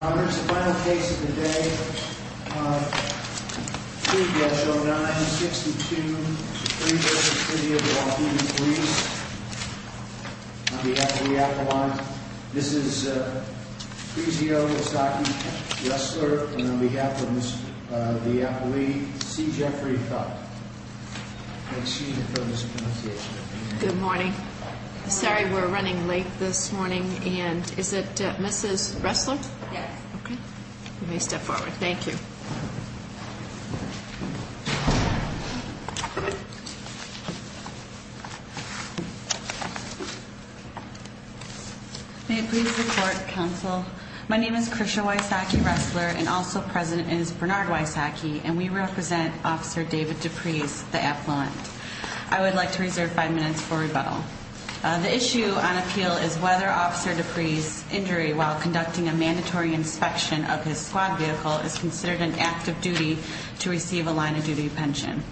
Honors, the final case of the day, Pre-Basho 9-62-3 v. City of Waukegan Police On behalf of the appellant, this is Krizio Yosaki-Ressler, and on behalf of the appellee, C. Jeffrey Thuck. Good morning. Sorry, we're running late this morning, and is it Mrs. Ressler? You may step forward. Thank you. May it please the Court, Counsel. My name is Krizio Yosaki-Ressler, and also present is Bernard Yosaki, and we represent Officer David Deprez, the appellant. I would like to reserve five minutes for rebuttal. The issue on appeal is whether Officer Deprez's injury while conducting a mandatory inspection of his squad vehicle is considered an act of duty to receive a line of duty pension.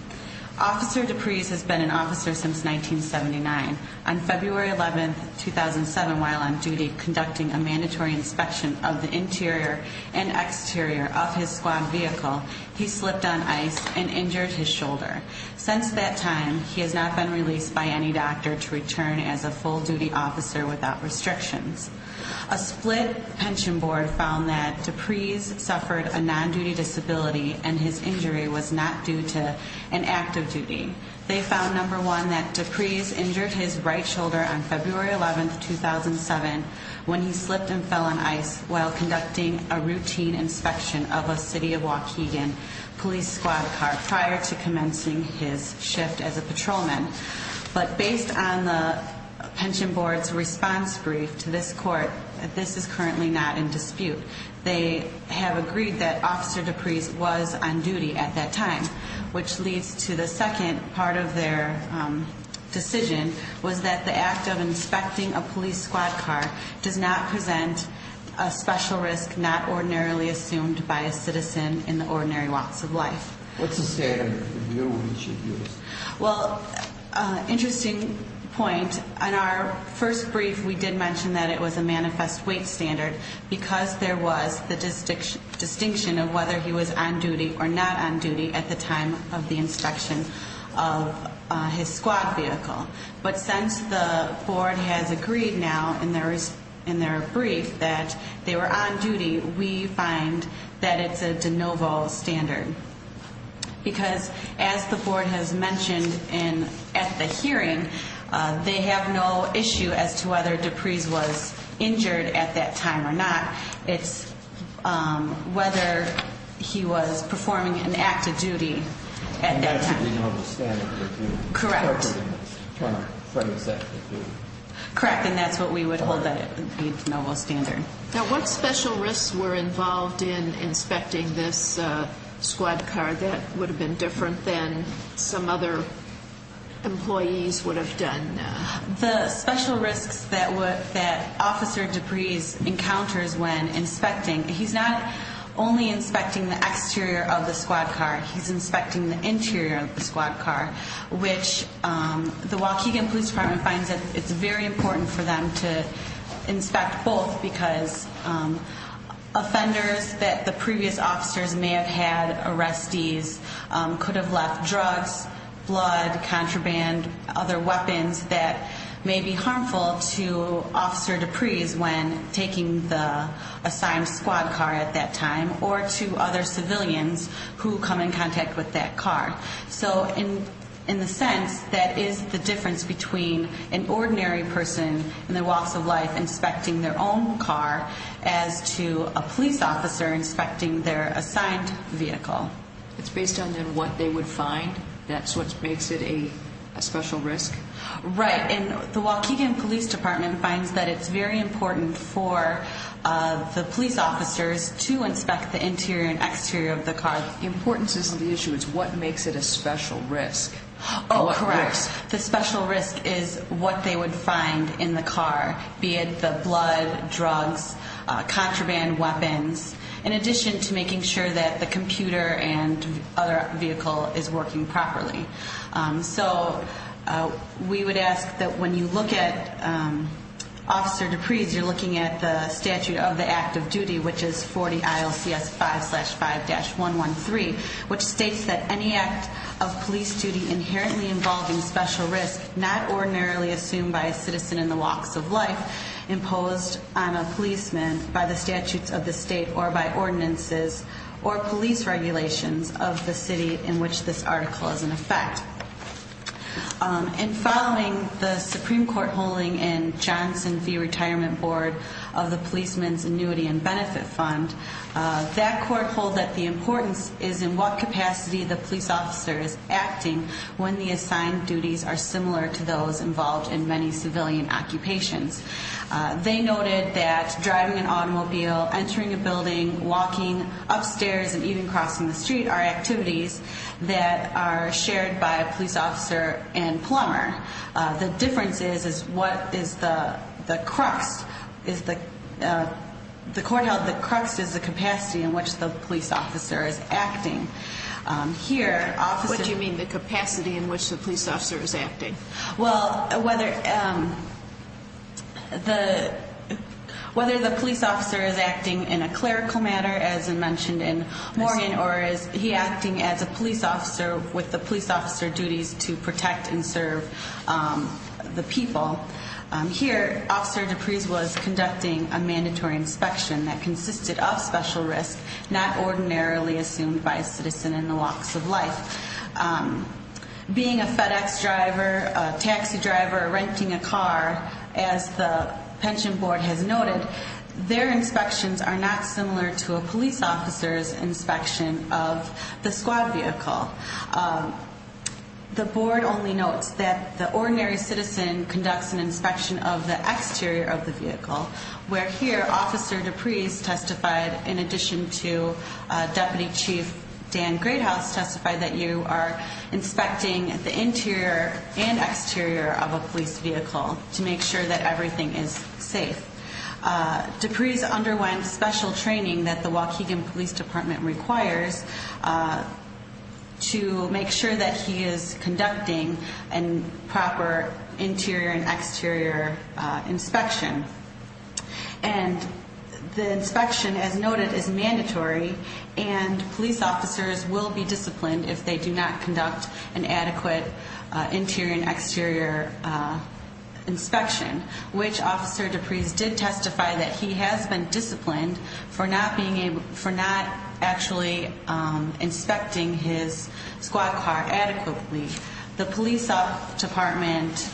Officer Deprez has been an officer since 1979. On February 11, 2007, while on duty conducting a mandatory inspection of the interior and exterior of his squad vehicle, he slipped on ice and injured his shoulder. Since that time, he has not been released by any doctor to return as a full-duty officer without restrictions. A split pension board found that Deprez suffered a non-duty disability, and his injury was not due to an act of duty. They found, number one, that Deprez injured his right shoulder on February 11, 2007 when he slipped and fell on ice while conducting a routine inspection of a city of Waukegan police squad car prior to his shift as a patrolman. But based on the pension board's response brief to this court, this is currently not in dispute. They have agreed that Officer Deprez was on duty at that time, which leads to the second part of their decision was that the act of inspecting a police squad car does not present a special risk not ordinarily assumed by a citizen in the ordinary walks of life. What's the standard? Interesting point. On our first brief, we did mention that it was a manifest weight standard because there was the distinction of whether he was on duty or not on duty at the time of the inspection of his squad vehicle. But since the board has agreed now in their brief that they were on duty, we find that it's a novel standard because as the board has mentioned at the hearing, they have no issue as to whether Deprez was injured at that time or not. It's whether he was performing an act of duty at that time. Correct. And that's what we would hold that as a novel standard. Now what special risks were involved in inspecting this squad car that would have been different than some other employees would have done? The special risks that Officer Deprez encounters when inspecting, he's not only inspecting the exterior of the squad car, he's inspecting the interior of the squad car, which the Waukegan Police Department finds that it's very important for them to inspect both because offenders that the previous officers may have had arrestees could have left drugs, blood, contraband, other weapons that may be harmful to Officer Deprez when taking the assigned squad car at that time or to other civilians who come in contact with that car. So in the sense that is the difference between an ordinary person in the walks of life inspecting their own car as to a police officer inspecting their assigned vehicle. It's based on then what they would find that's what makes it a special risk? Right. And the Waukegan Police Department finds that it's very important for the police officers to inspect the interior and exterior of the car. The importance of the issue is what makes it a special risk? Oh, correct. The special risk is what they would find in the car, be it the blood, drugs, contraband weapons, in addition to making sure that the computer and other vehicle is working properly. So we would ask that when you look at Officer Deprez, you're looking at the statute of the act of duty, which is 40 ILCS 5-5-113, which states that any act of police duty inherently involving special risk not ordinarily assumed by a citizen in the walks of life imposed on a policeman by the statutes of the state or by ordinances or police regulations of the city in which this article is in effect. And following the Supreme Court holding in Johnson v. Retirement Board of the Policeman's Annuity and Benefit Fund, that court hold that the importance is in what capacity the police officer is acting when the assigned duties are similar to those involved in many civilian occupations. They noted that driving an automobile, entering a building, walking, upstairs, and even crossing the street are activities that are shared by a police officer and plumber. The difference is what is the crux, the court held the crux is the capacity in which the police officer is acting. What do you mean the capacity in which the police officer is acting? Well, whether the police officer is acting in a clerical manner, as mentioned in Moorhan, or is he acting as a police officer with the police officer duties to protect and serve the people. Here, Officer Dupree's was conducting a mandatory inspection that consisted of special risk not ordinarily assumed by a citizen in the walks of life. Being a FedEx driver, a taxi driver, renting a car, as the pension board has noted, their inspections are not similar to a police officer's inspection of the squad vehicle. The board only notes that the ordinary citizen conducts an inspection of the exterior of the vehicle, where here, Officer Dupree's testified in addition to Deputy Chief Dan Greathouse testified that you are inspecting the interior and exterior of a police vehicle to make sure that everything is safe. Dupree's underwent special training that the Waukegan Police Department requires to make sure that he is conducting proper interior and exterior inspection. And the inspection, as noted, is mandatory and police officers will be disciplined if they do not conduct an adequate interior and exterior inspection, which Officer Dupree's did testify that he has been disciplined for not being able for not actually inspecting his squad car adequately. The police department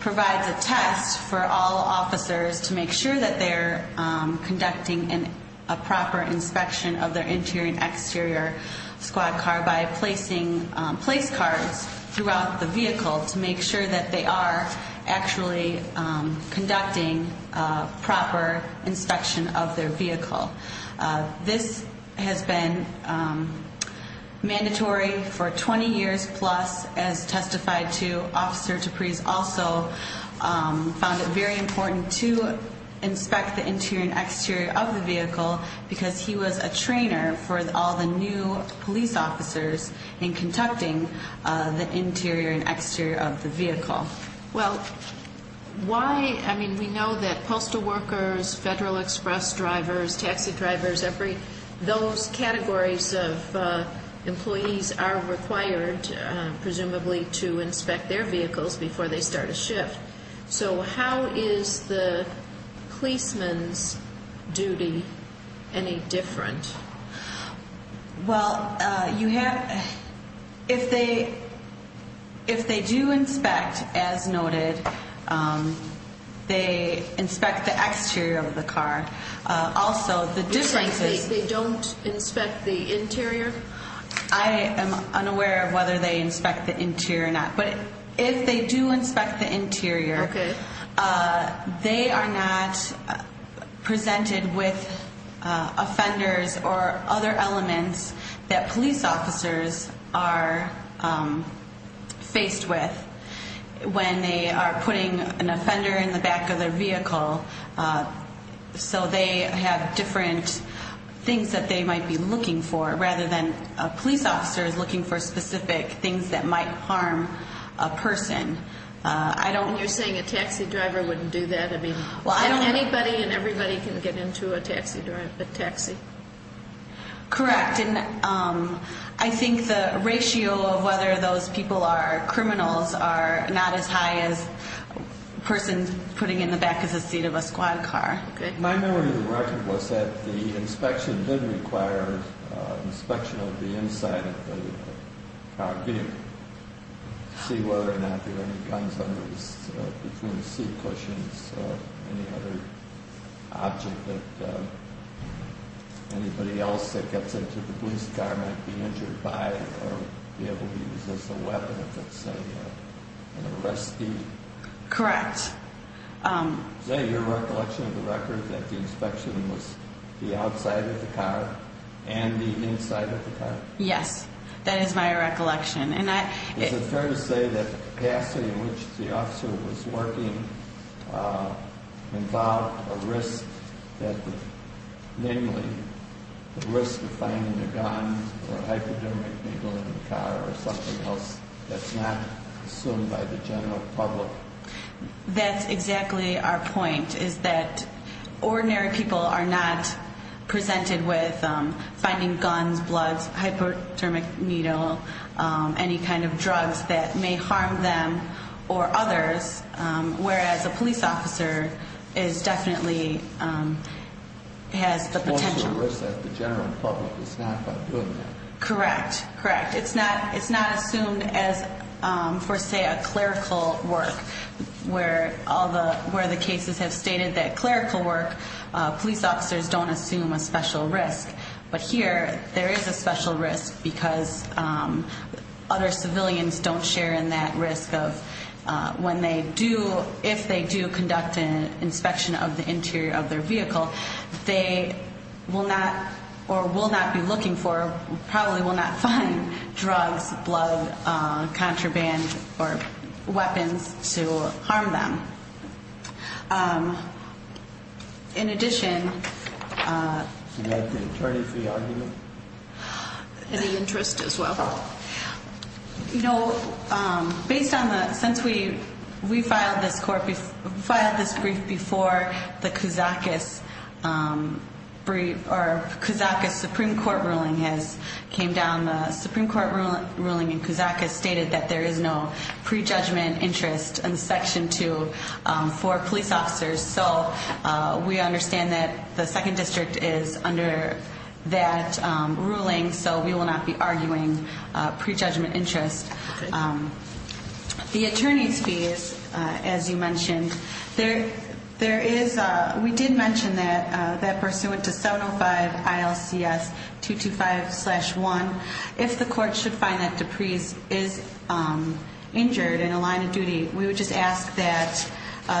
provides a test for all officers to make sure that they're conducting a proper inspection of their interior and exterior squad car by placing place cards throughout the vehicle to make sure that they are actually conducting proper inspection of their vehicle. This has been mandatory for 20 years plus, as testified to. Officer Dupree's also found it very important to inspect the interior and exterior of the vehicle because he was a trainer for all the new police officers in conducting the interior and exterior of the vehicle. We know that postal workers, Federal Express drivers, taxi drivers, those categories of employees are required, presumably, to carry the shift. So how is the policeman's duty any different? Well, you have... If they do inspect, as noted, they inspect the exterior of the car. Also, the difference is... You're saying they don't inspect the interior? I am unaware of whether they inspect the interior or not. But if they do inspect the interior, they are not presented with offenders or other elements that police officers are faced with when they are putting an offender in the back of their vehicle so they have different things that they might be looking for, rather than police officers looking for specific things that might harm a person. You're saying a taxi driver wouldn't do that? Anybody and everybody can get into a taxi? Correct. I think the ratio of whether those people are criminals are not as high as a person putting in the back of the seat of a squad car. My memory of the record was that the inspection did require an inspection of the inside of the car. To see whether or not there were any guns between the seat cushions or any other object that anybody else that gets into the police car might be injured by or be able to use as a weapon if it's an arrestee. Correct. Is that your recollection of the record, that the inspection was the outside of the car and the inside of the car? Yes, that is my recollection. Is it fair to say that the capacity in which the officer was working involved a risk, namely the risk of finding a gun or a hypodermic needle in the car or something else that's not assumed by the general public? That's exactly our point, is that it's not presented with finding guns, bloods, hypodermic needle any kind of drugs that may harm them or others, whereas a police officer definitely has the potential. The general public is not doing that. Correct. It's not assumed as, for say, a clerical work where the cases have stated that clerical work police officers don't assume a special risk, but here there is a special risk because other civilians don't share in that risk of when they do, if they do conduct an inspection of the interior of their vehicle they will not or will not be looking for probably will not find drugs, blood, contraband or weapons to harm them. In addition Do you have the attorney for your argument? Any interest as well? Based on the, since we filed this brief before the Kousakis Supreme Court ruling came down the Supreme Court ruling in Kousakis stated that there is no prejudgment interest in Section 2 for police officers so we understand that the 2nd District is under that ruling so we will not be arguing prejudgment interest. The attorney's fees as you mentioned, there is, we did mention that that person went to 705 ILCS 225 slash 1. If the court should find that Dupree is injured in a line of duty, we would just ask that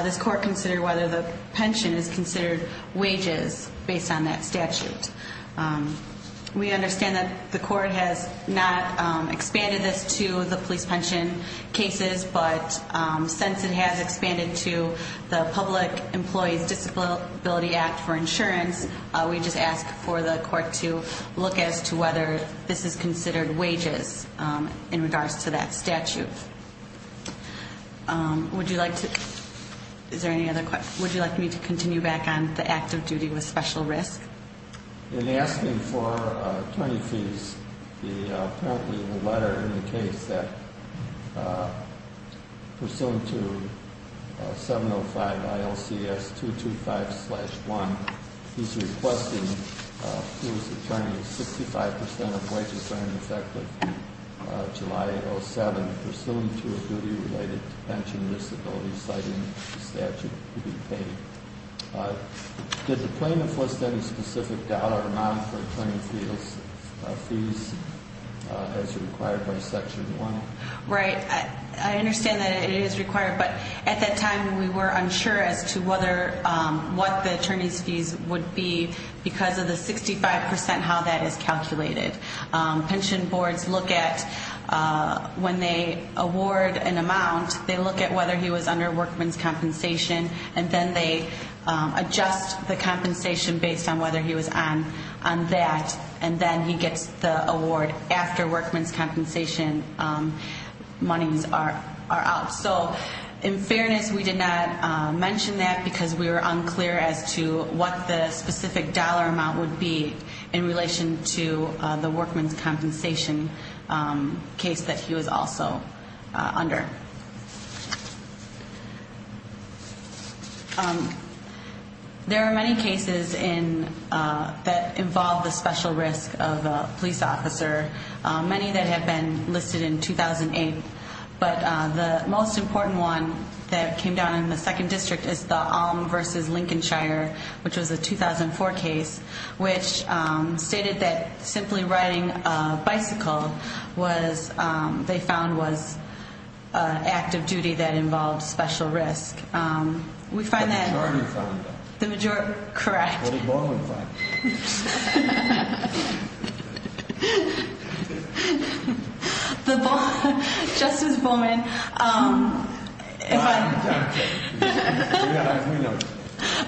this court consider whether the pension is considered wages based on that statute. We understand that the court has not expanded this to the police pension cases, but since it has expanded to the Public Employees Disability Act for Insurance, we just ask for the court to look as to whether this is considered wages in regards to that statute. Would you like to, is there any other questions? Would you like me to continue back on the act of duty with special risk? In asking for attorney fees, apparently the letter indicates that pursuant to 705 ILCS 225 slash 1, he's requesting to his attorney 65% of wages are in effect of July 07, pursuant to a duty related to pension disability citing the statute to be paid. Did the plaintiff list any specific dollar amount for attorney fees as required by Section 1? Right. I understand that it is required, but at that time we were unsure as to whether, what the attorney's fees would be because of the 65% how that is calculated. Pension boards look at, when they award an amount, they look at whether he was under workman's compensation, and then they adjust the compensation based on whether he was on that, and then he gets the award after workman's compensation monies are out. In fairness, we did not mention that because we were unclear as to what the specific dollar amount would be in relation to the workman's compensation case that he was also under. There are many cases that involve the special risk of a police officer, many that have been listed in 2008, but the most important one that came down in the 2nd District is the 2004 case, which stated that simply riding a bicycle was an act of duty that involved special risk. The majority found that. What did Bowman find? Justice Bowman...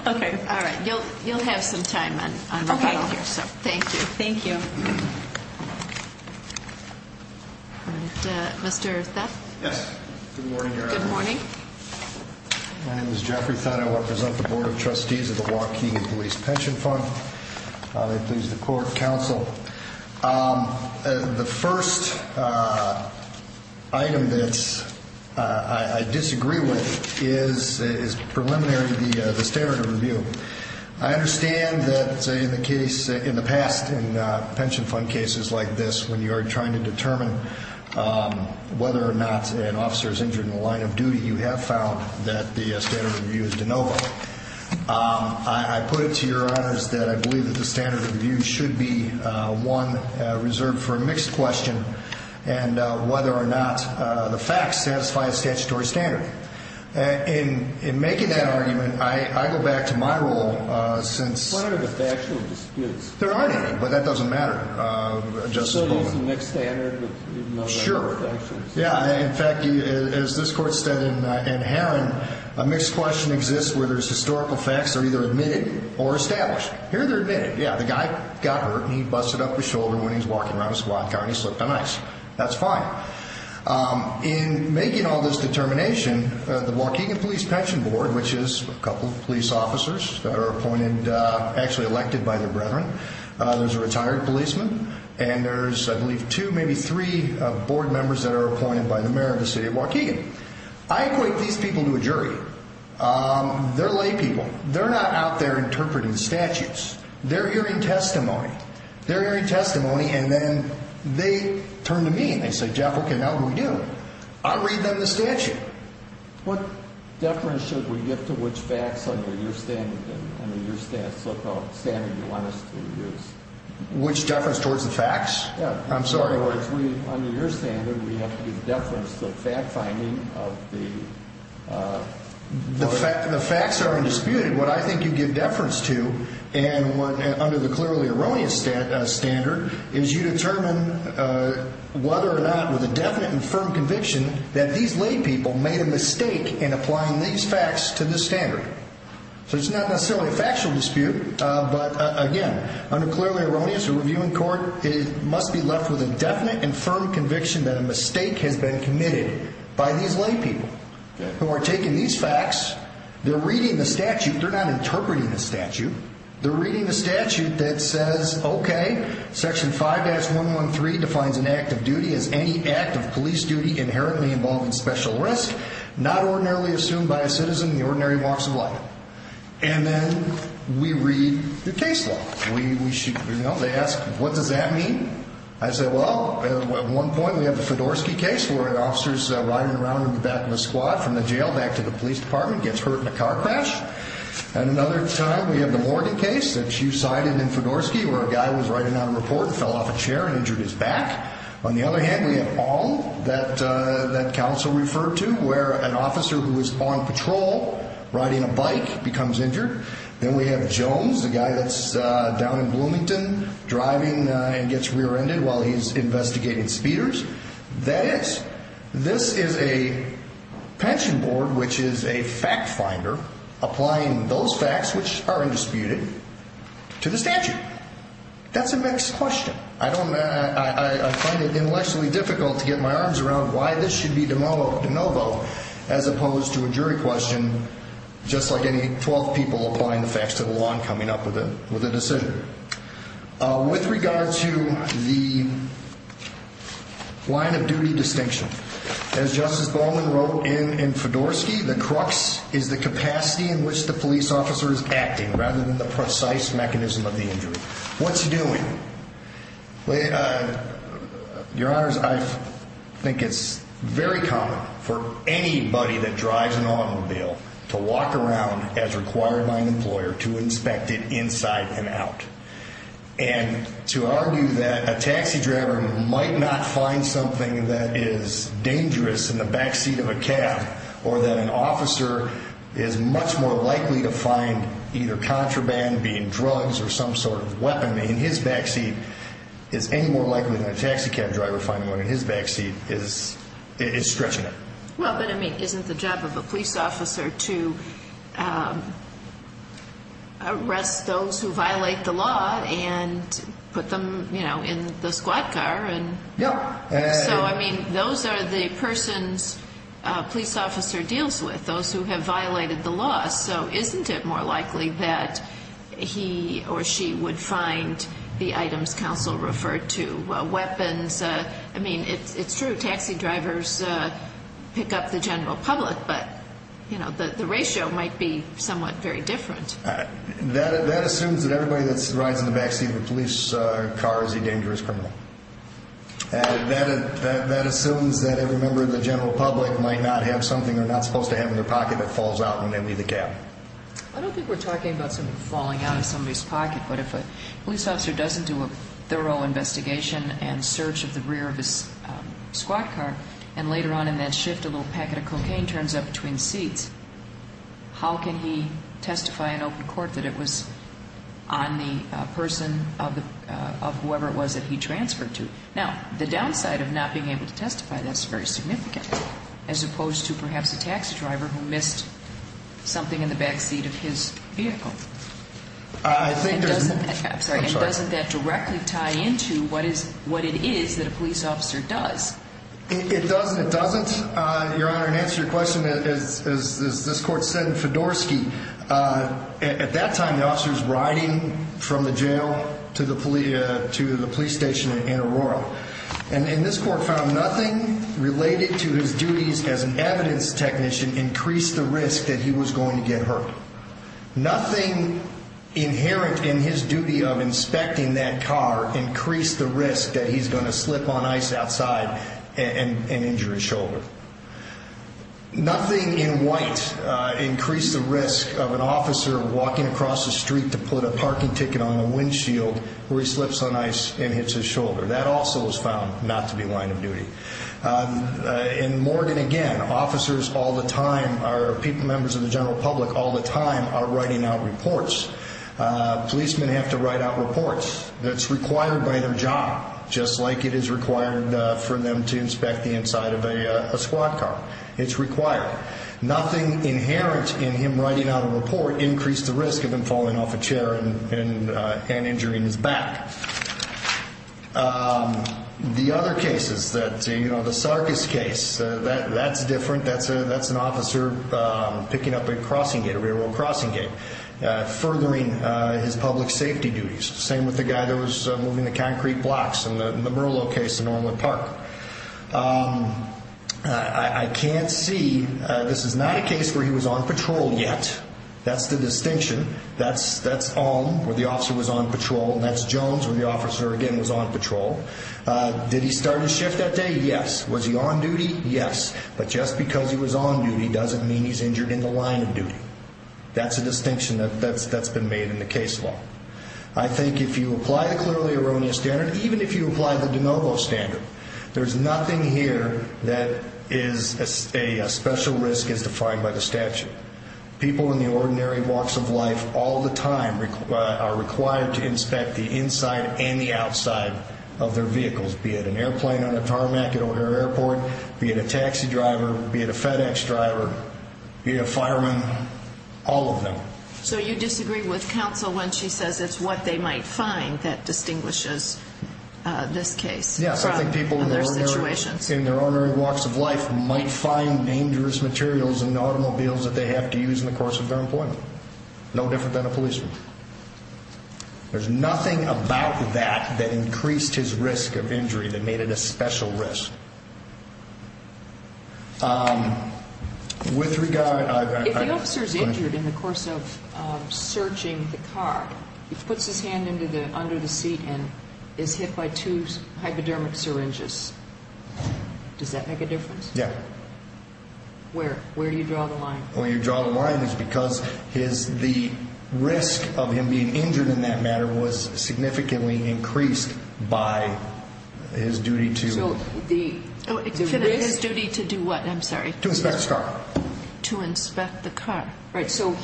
Okay, all right. You'll have some time on the panel here, so thank you. Thank you. Good morning, Your Honor. My name is Jeffrey Thott, I represent the Board of Trustees of the Waukegan Police Pension Fund. I please the Court of Counsel. The first item that I disagree with is preliminary to the standard of review. I understand that in the past, in pension fund cases like this, when you are trying to determine whether or not an officer is injured in the line of duty, you have found that the standard of review is de novo. I put it to Your Honors that I believe that the standard of review should be one reserved for a mixed question, and whether or not the facts satisfy a statutory standard. In making that argument, I go back to my role since... What are the factual disputes? There aren't any, but that doesn't matter. So there's a mixed standard? Sure. Yeah, in fact, as this Court said in Heron, a mixed question exists where there's historical facts that are either admitted or established. Here they're admitted. Yeah, the guy got hurt and he busted up his shoulder when he was walking around and he slipped on ice. That's fine. In making all this determination, the Waukegan Police Pension Board, which is a couple of police officers that are appointed, actually elected by their brethren, there's a retired policeman, and there's, I believe, two, maybe three board members that are appointed by the mayor of the city of Waukegan. I equate these people to a jury. They're lay people. They're not out there interpreting statutes. They're hearing testimony. They're hearing testimony, and then they turn to me and they say, Jeff, what can we do? I'll read them the statute. What deference should we give to which facts under your standard and under your so-called standard you want us to use? Which deference towards the facts? I'm sorry. Under your standard, we have to give deference to the fact-finding of the... The facts are undisputed. What I think you give deference to under the clearly erroneous standard is you determine whether or not, with a definite and firm conviction, that these lay people made a mistake in applying these facts to this standard. So it's not necessarily a factual dispute, but again, under clearly erroneous or reviewing court, it must be left with a definite and firm conviction that a mistake has been committed by these lay people who are taking these facts. They're reading the statute. They're not interpreting the statute. They're reading the statute that says, okay, section 5-113 defines an act of duty as any act of police duty inherently involving special risk, not ordinarily assumed by a citizen in the ordinary walks of life. And then we read the case law. They ask, what does that mean? I say, well, at one point we have the Fedorsky case where an officer's riding around in the back of a squad from the jail back to the police department, gets hurt in a car crash. At another time, we have the Morgan case that you cited in Fedorsky where a guy was writing out a report and fell off a chair and injured his back. On the other hand, we have all that counsel referred to where an officer who was on patrol riding a bike becomes injured. Then we have Jones, the guy that's down in Bloomington driving and gets rear-ended while he's investigating speeders. That is, this is a pension board, which is a fact finder, applying those facts, which are undisputed, to the statute. That's a mixed question. I find it intellectually difficult to get my arms around why this should be de novo as opposed to a jury question, just like any 12 people applying the facts to the law and coming up with a decision. With regard to the line of duty distinction, as Justice Bowman wrote in Fedorsky, the crux is the capacity in which the police officer is acting rather than the precise mechanism of the injury. What's he doing? Your Honors, I think it's very common for anybody that drives an automobile to walk around as required by an employer to inspect it inside and out. And to argue that a taxi driver might not find something that is dangerous in the backseat of a cab or that an officer is much more likely to find either contraband being drugs or some sort of weapon in his backseat is any more likely than a taxi cab driver finding one in his backseat is stretching it. Well, but isn't the job of a police officer to arrest those who violate the law and put them in the squat car? Yeah. So I mean, those are the persons a police officer deals with, those who have violated the law. So isn't it more likely that he or she would find the items counsel referred to weapons? I mean, it's true, taxi drivers pick up the general public, but the ratio might be somewhat very different. That assumes that everybody that rides in the backseat of a police car is a dangerous criminal. That assumes that every member of the general public might not have something they're not supposed to have in their pocket that falls out when they leave the cab. I don't think we're talking about something falling out of somebody's pocket, but if a police officer doesn't do a thorough investigation and search of the rear of his squat car, and later on in that shift a little packet of cocaine turns up between seats, how can he testify in open court that it was on the person of whoever it was that he transferred to? Now, the downside of not being able to testify, that's very significant, as opposed to perhaps a taxi driver who missed something in the backseat of his vehicle. And doesn't that directly tie into what it is that a police officer does? It doesn't, it doesn't. Your Honor, in answer to your question, as this Court said in Fedorsky, at that time the officer was riding from the jail to the police station in Aurora. And this Court found nothing related to his duties as an evidence technician increased the risk that he was going to get hurt. Nothing inherent in his duty of inspecting that car increased the risk that he's going to slip on ice outside and injure his shoulder. Nothing in increased the risk of an officer walking across the street to put a parking ticket on the windshield where he slips on ice and hits his shoulder. That also was found not to be a line of duty. And Morgan, again, officers all the time, members of the general public all the time are writing out reports. Policemen have to write out reports that's required by their job, just like it is required for them to inspect the inside of a squat car. It's required. Nothing inherent in him writing out a report increased the risk of him falling off a chair and injuring his back. The other cases, the Sarkis case, that's different. That's an officer picking up a crossing gate, a railroad crossing gate, furthering his public safety duties. Same with the guy that was moving the concrete blocks in the Merlot case in Orland Park. I can't see this is not a case where he was on patrol yet. That's the distinction. That's Alm, where the officer was on patrol, and that's Jones, where the officer again was on patrol. Did he start his shift that day? Yes. Was he on duty? Yes. But just because he was on duty doesn't mean he's injured in the line of duty. That's a distinction that's been made in the case law. I think if you apply the clearly erroneous standard, even if you apply the de novo standard, there's nothing here that is a special risk as defined by the statute. People in the ordinary walks of life all the time are required to inspect the inside and the outside of their vehicles, be it an airplane on a tarmac at an airport, be it a taxi driver, be it a FedEx driver, be it a fireman, all of them. So you disagree with counsel when she says it's what they might find that distinguishes this case from other situations? Yes, I think people in their ordinary walks of life might find dangerous materials in automobiles that they have to use in the course of their employment. No different than a policeman. There's nothing about that that increased his risk of injury that made it a special risk. If the officer is injured in the course of searching the car, he puts his hand under the seat and is hit by two hypodermic syringes, does that make a difference? Yes. Where do you draw the line? The risk of him being injured in that matter was significantly increased by his duty to inspect the car. So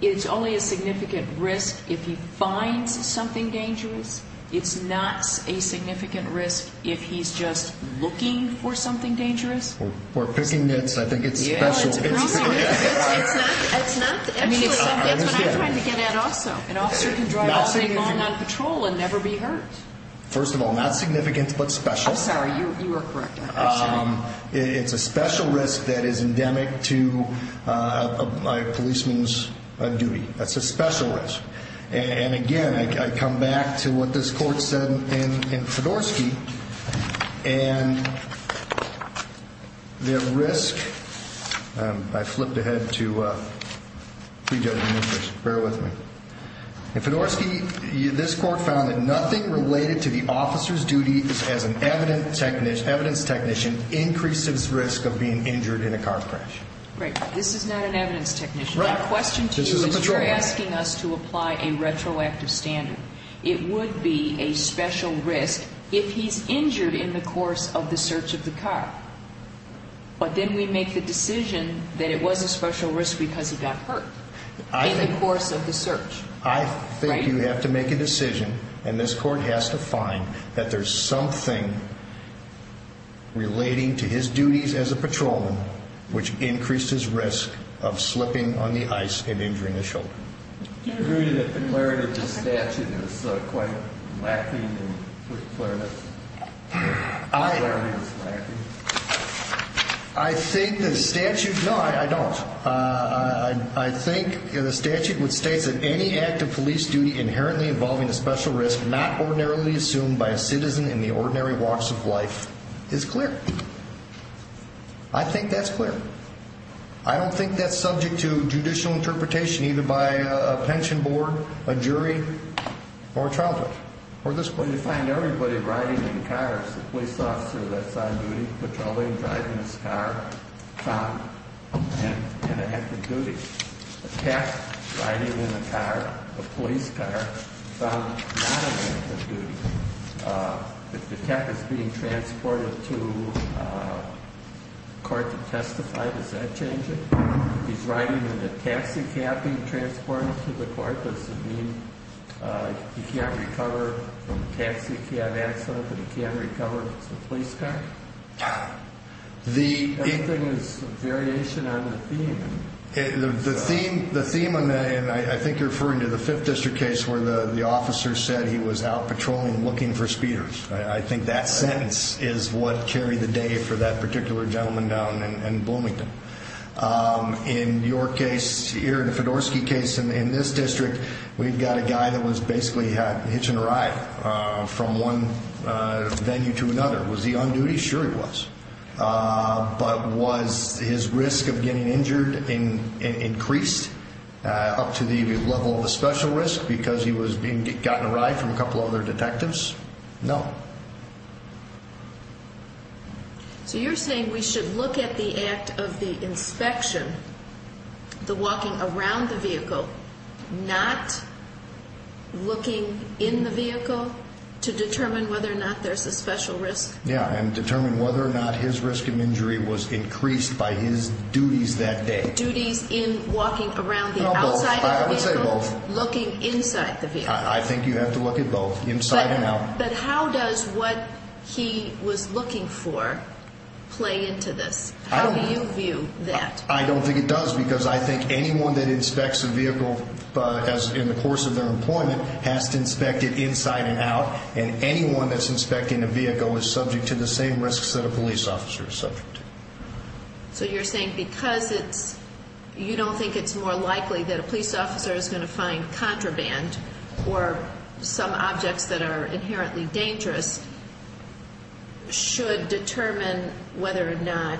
it's only a significant risk if he finds something dangerous? It's not a significant risk if he's just looking for something dangerous? We're picking nits. I think it's special. That's what I'm trying to get at also. An officer can drive all day long on patrol and never be hurt. First of all, not significant, but special. It's a special risk that is endemic to a policeman's duty. That's a special risk. And again, I come back to what this court said in Fedorsky, and the risk, I flipped ahead to prejudging interest, bear with me. In Fedorsky, this court found that nothing related to the officer's duty as an evidence technician increased his risk of being injured in a car crash. My question to you is you're asking us to apply a retroactive standard. It would be a special risk if he's injured in the course of the search of the car. But then we make the decision that it was a special risk because he got hurt in the course of the search. I think you have to make a decision and this court has to find that there's something relating to his duties as a patrolman which increased his risk of slipping on the ice and injuring his shoulder. Do you agree that the clarity of the statute is quite lacking in clarity? I think the statute, no I don't. I think the statute states that any act of police duty inherently involving a special risk not ordinarily assumed by a patrolman is clear. I think that's clear. I don't think that's subject to judicial interpretation either by a pension board, a jury, or a trial court or this court. When you find everybody riding in cars, the police officer that's on duty patrolling, driving his car, found an inactive duty. A cat riding in a car, a police car, found not an active duty. If the cat is being transported to a court to testify, does that change it? If he's riding in a taxi cab being transported to the court, does it mean he can't recover from a taxi cab accident but he can recover if it's a police car? Everything is a variation on the theme. The theme, and I think you're referring to the 5th District case where the patrolman looking for speeders. I think that sentence is what carried the day for that particular gentleman down in Bloomington. In your case, your Fedorsky case in this district, we've got a guy that was basically hitching a ride from one venue to another. Was he on duty? Sure he was. But was his risk of getting injured increased up to the level of a special risk because he was being gotten a ride from a couple other detectives? No. So you're saying we should look at the act of the inspection, the walking around the vehicle, not looking in the vehicle to determine whether or not there's a special risk? Yeah, and determine whether or not his risk of injury was increased by his looking inside the vehicle. I think you have to look at both, inside and out. But how does what he was looking for play into this? How do you view that? I don't think it does because I think anyone that inspects a vehicle in the course of their employment has to inspect it inside and out, and anyone that's inspecting a vehicle is subject to the same risks that a police officer is subject to. So you're saying because you don't think it's more likely that a police officer is going to find contraband or some objects that are inherently dangerous should determine whether or not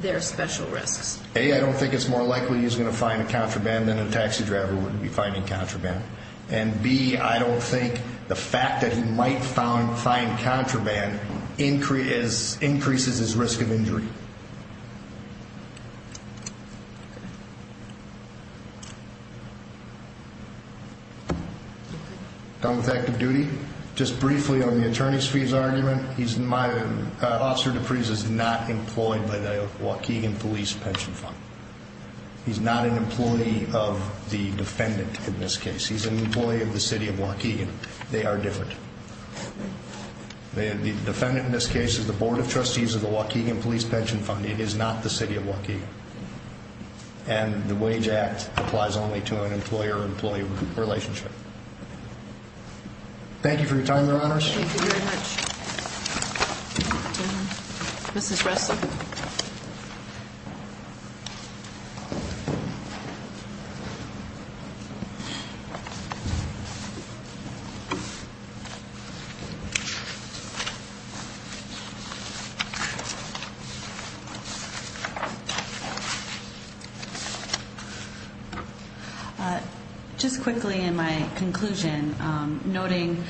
there are special risks? A, I don't think it's more likely he's going to find contraband than a taxi driver would be finding contraband. And B, I don't think the fact that he might find contraband increases his risk of injury. Done with active duty. Just briefly on the attorney's fees argument, Officer DePriest is not employed by the Waukegan Police Pension Fund. He's not an employee of the defendant in this case. He's an employee of the City of Waukegan. They are different. The defendant in this case is the Board of Trustees of the Waukegan Police Pension Fund. It is not the City of Waukegan. And the Wage Act applies only to an employer-employee relationship. Thank you for your time, Your Honors. Thank you very much. Just quickly in my conclusion, noting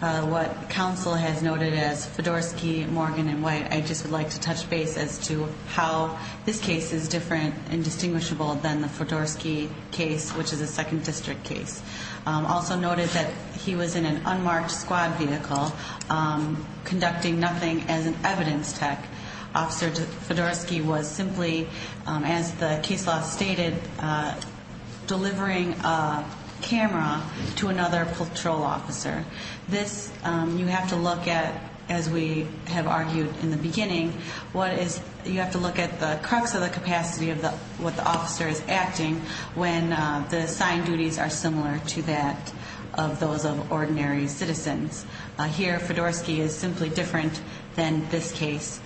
what counsel has noted as Fedorsky, Morgan, and White, I just would like to touch base as to how this case is different and distinguishable than the Fedorsky case, which is a 2nd District case. Also noted that he was in an unmarked squad vehicle conducting nothing as an evidence tech. Officer Fedorsky was simply, as the case law stated, delivering a camera to another patrol officer. This, you have to look at, as we have argued in the beginning, you have to look at the crux of the capacity of what the officer is acting when the assigned duties are similar to that of those of ordinary citizens. Here, Fedorsky is simply different than this case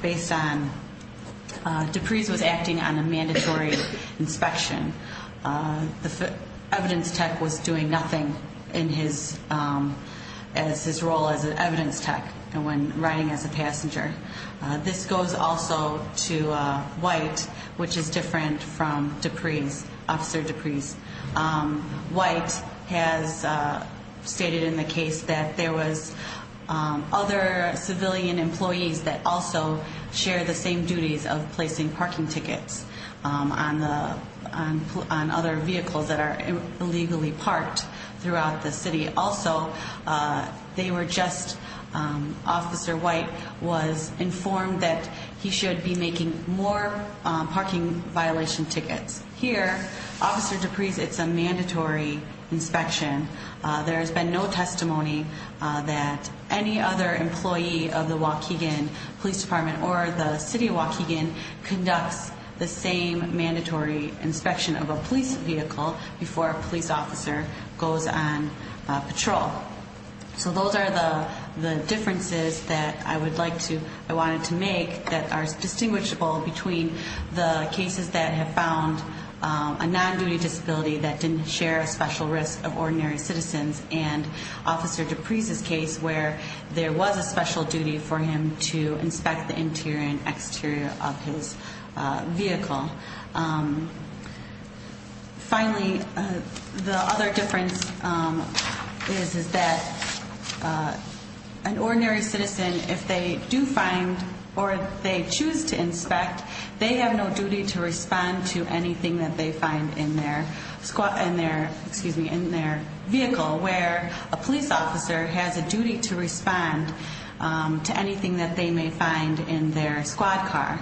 based on Dupree's was acting on a mandatory inspection. The evidence tech was doing nothing as his role as an evidence tech when riding as a passenger. This goes also to White, which is different from Dupree's, Officer Dupree's. White has stated in the case that there was other civilian employees that also share the same duties of placing parking tickets on other vehicles that are illegally parked throughout the city. Also, they were just, Officer White was informed that he should be making more parking violation tickets. Here, Officer Dupree's, it's a mandatory inspection. There has been no other employee of the Waukegan Police Department or the city of Waukegan conducts the same mandatory inspection of a police vehicle before a police officer goes on patrol. So those are the differences that I would like to, I wanted to make that are distinguishable between the cases that have found a non-duty disability that didn't share a special risk of ordinary citizens and Officer Dupree's case where there was a special duty for him to inspect the interior and exterior of his vehicle. Finally, the other difference is that an ordinary citizen, if they do find or they choose to inspect, they have no duty to respond to anything that they find in their vehicle where a police officer has a duty to respond to anything that they may find in their squad car.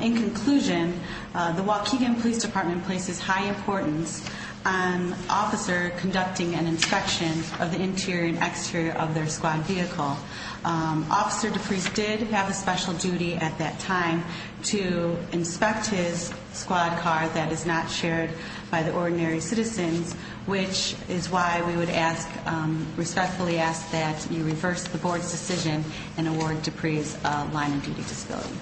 In conclusion, the Waukegan Police Department places high importance on officers conducting an inspection of the interior and exterior of their squad vehicle. Officer Dupree's did have a special duty at that time to inspect his squad car that is not shared by the ordinary citizens, which is why we would ask, respectfully ask that you reverse the board's decision and award Dupree's a line of duty disability.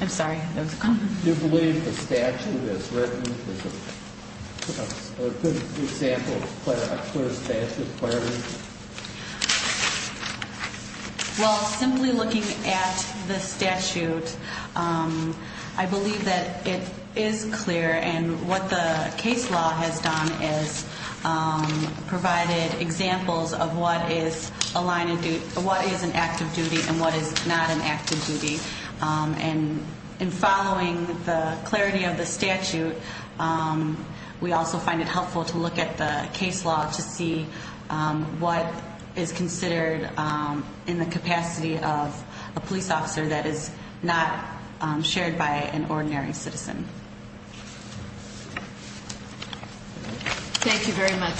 I'm sorry. Well, simply looking at the statute, I believe that it is clear and what the case law has done is provided examples of what is an active duty and what is not an active duty. In following the clarity of the statute, we also find it helpful to look at the case law to see what is considered in the capacity of a police officer that is not shared by an ordinary citizen. Thank you very much.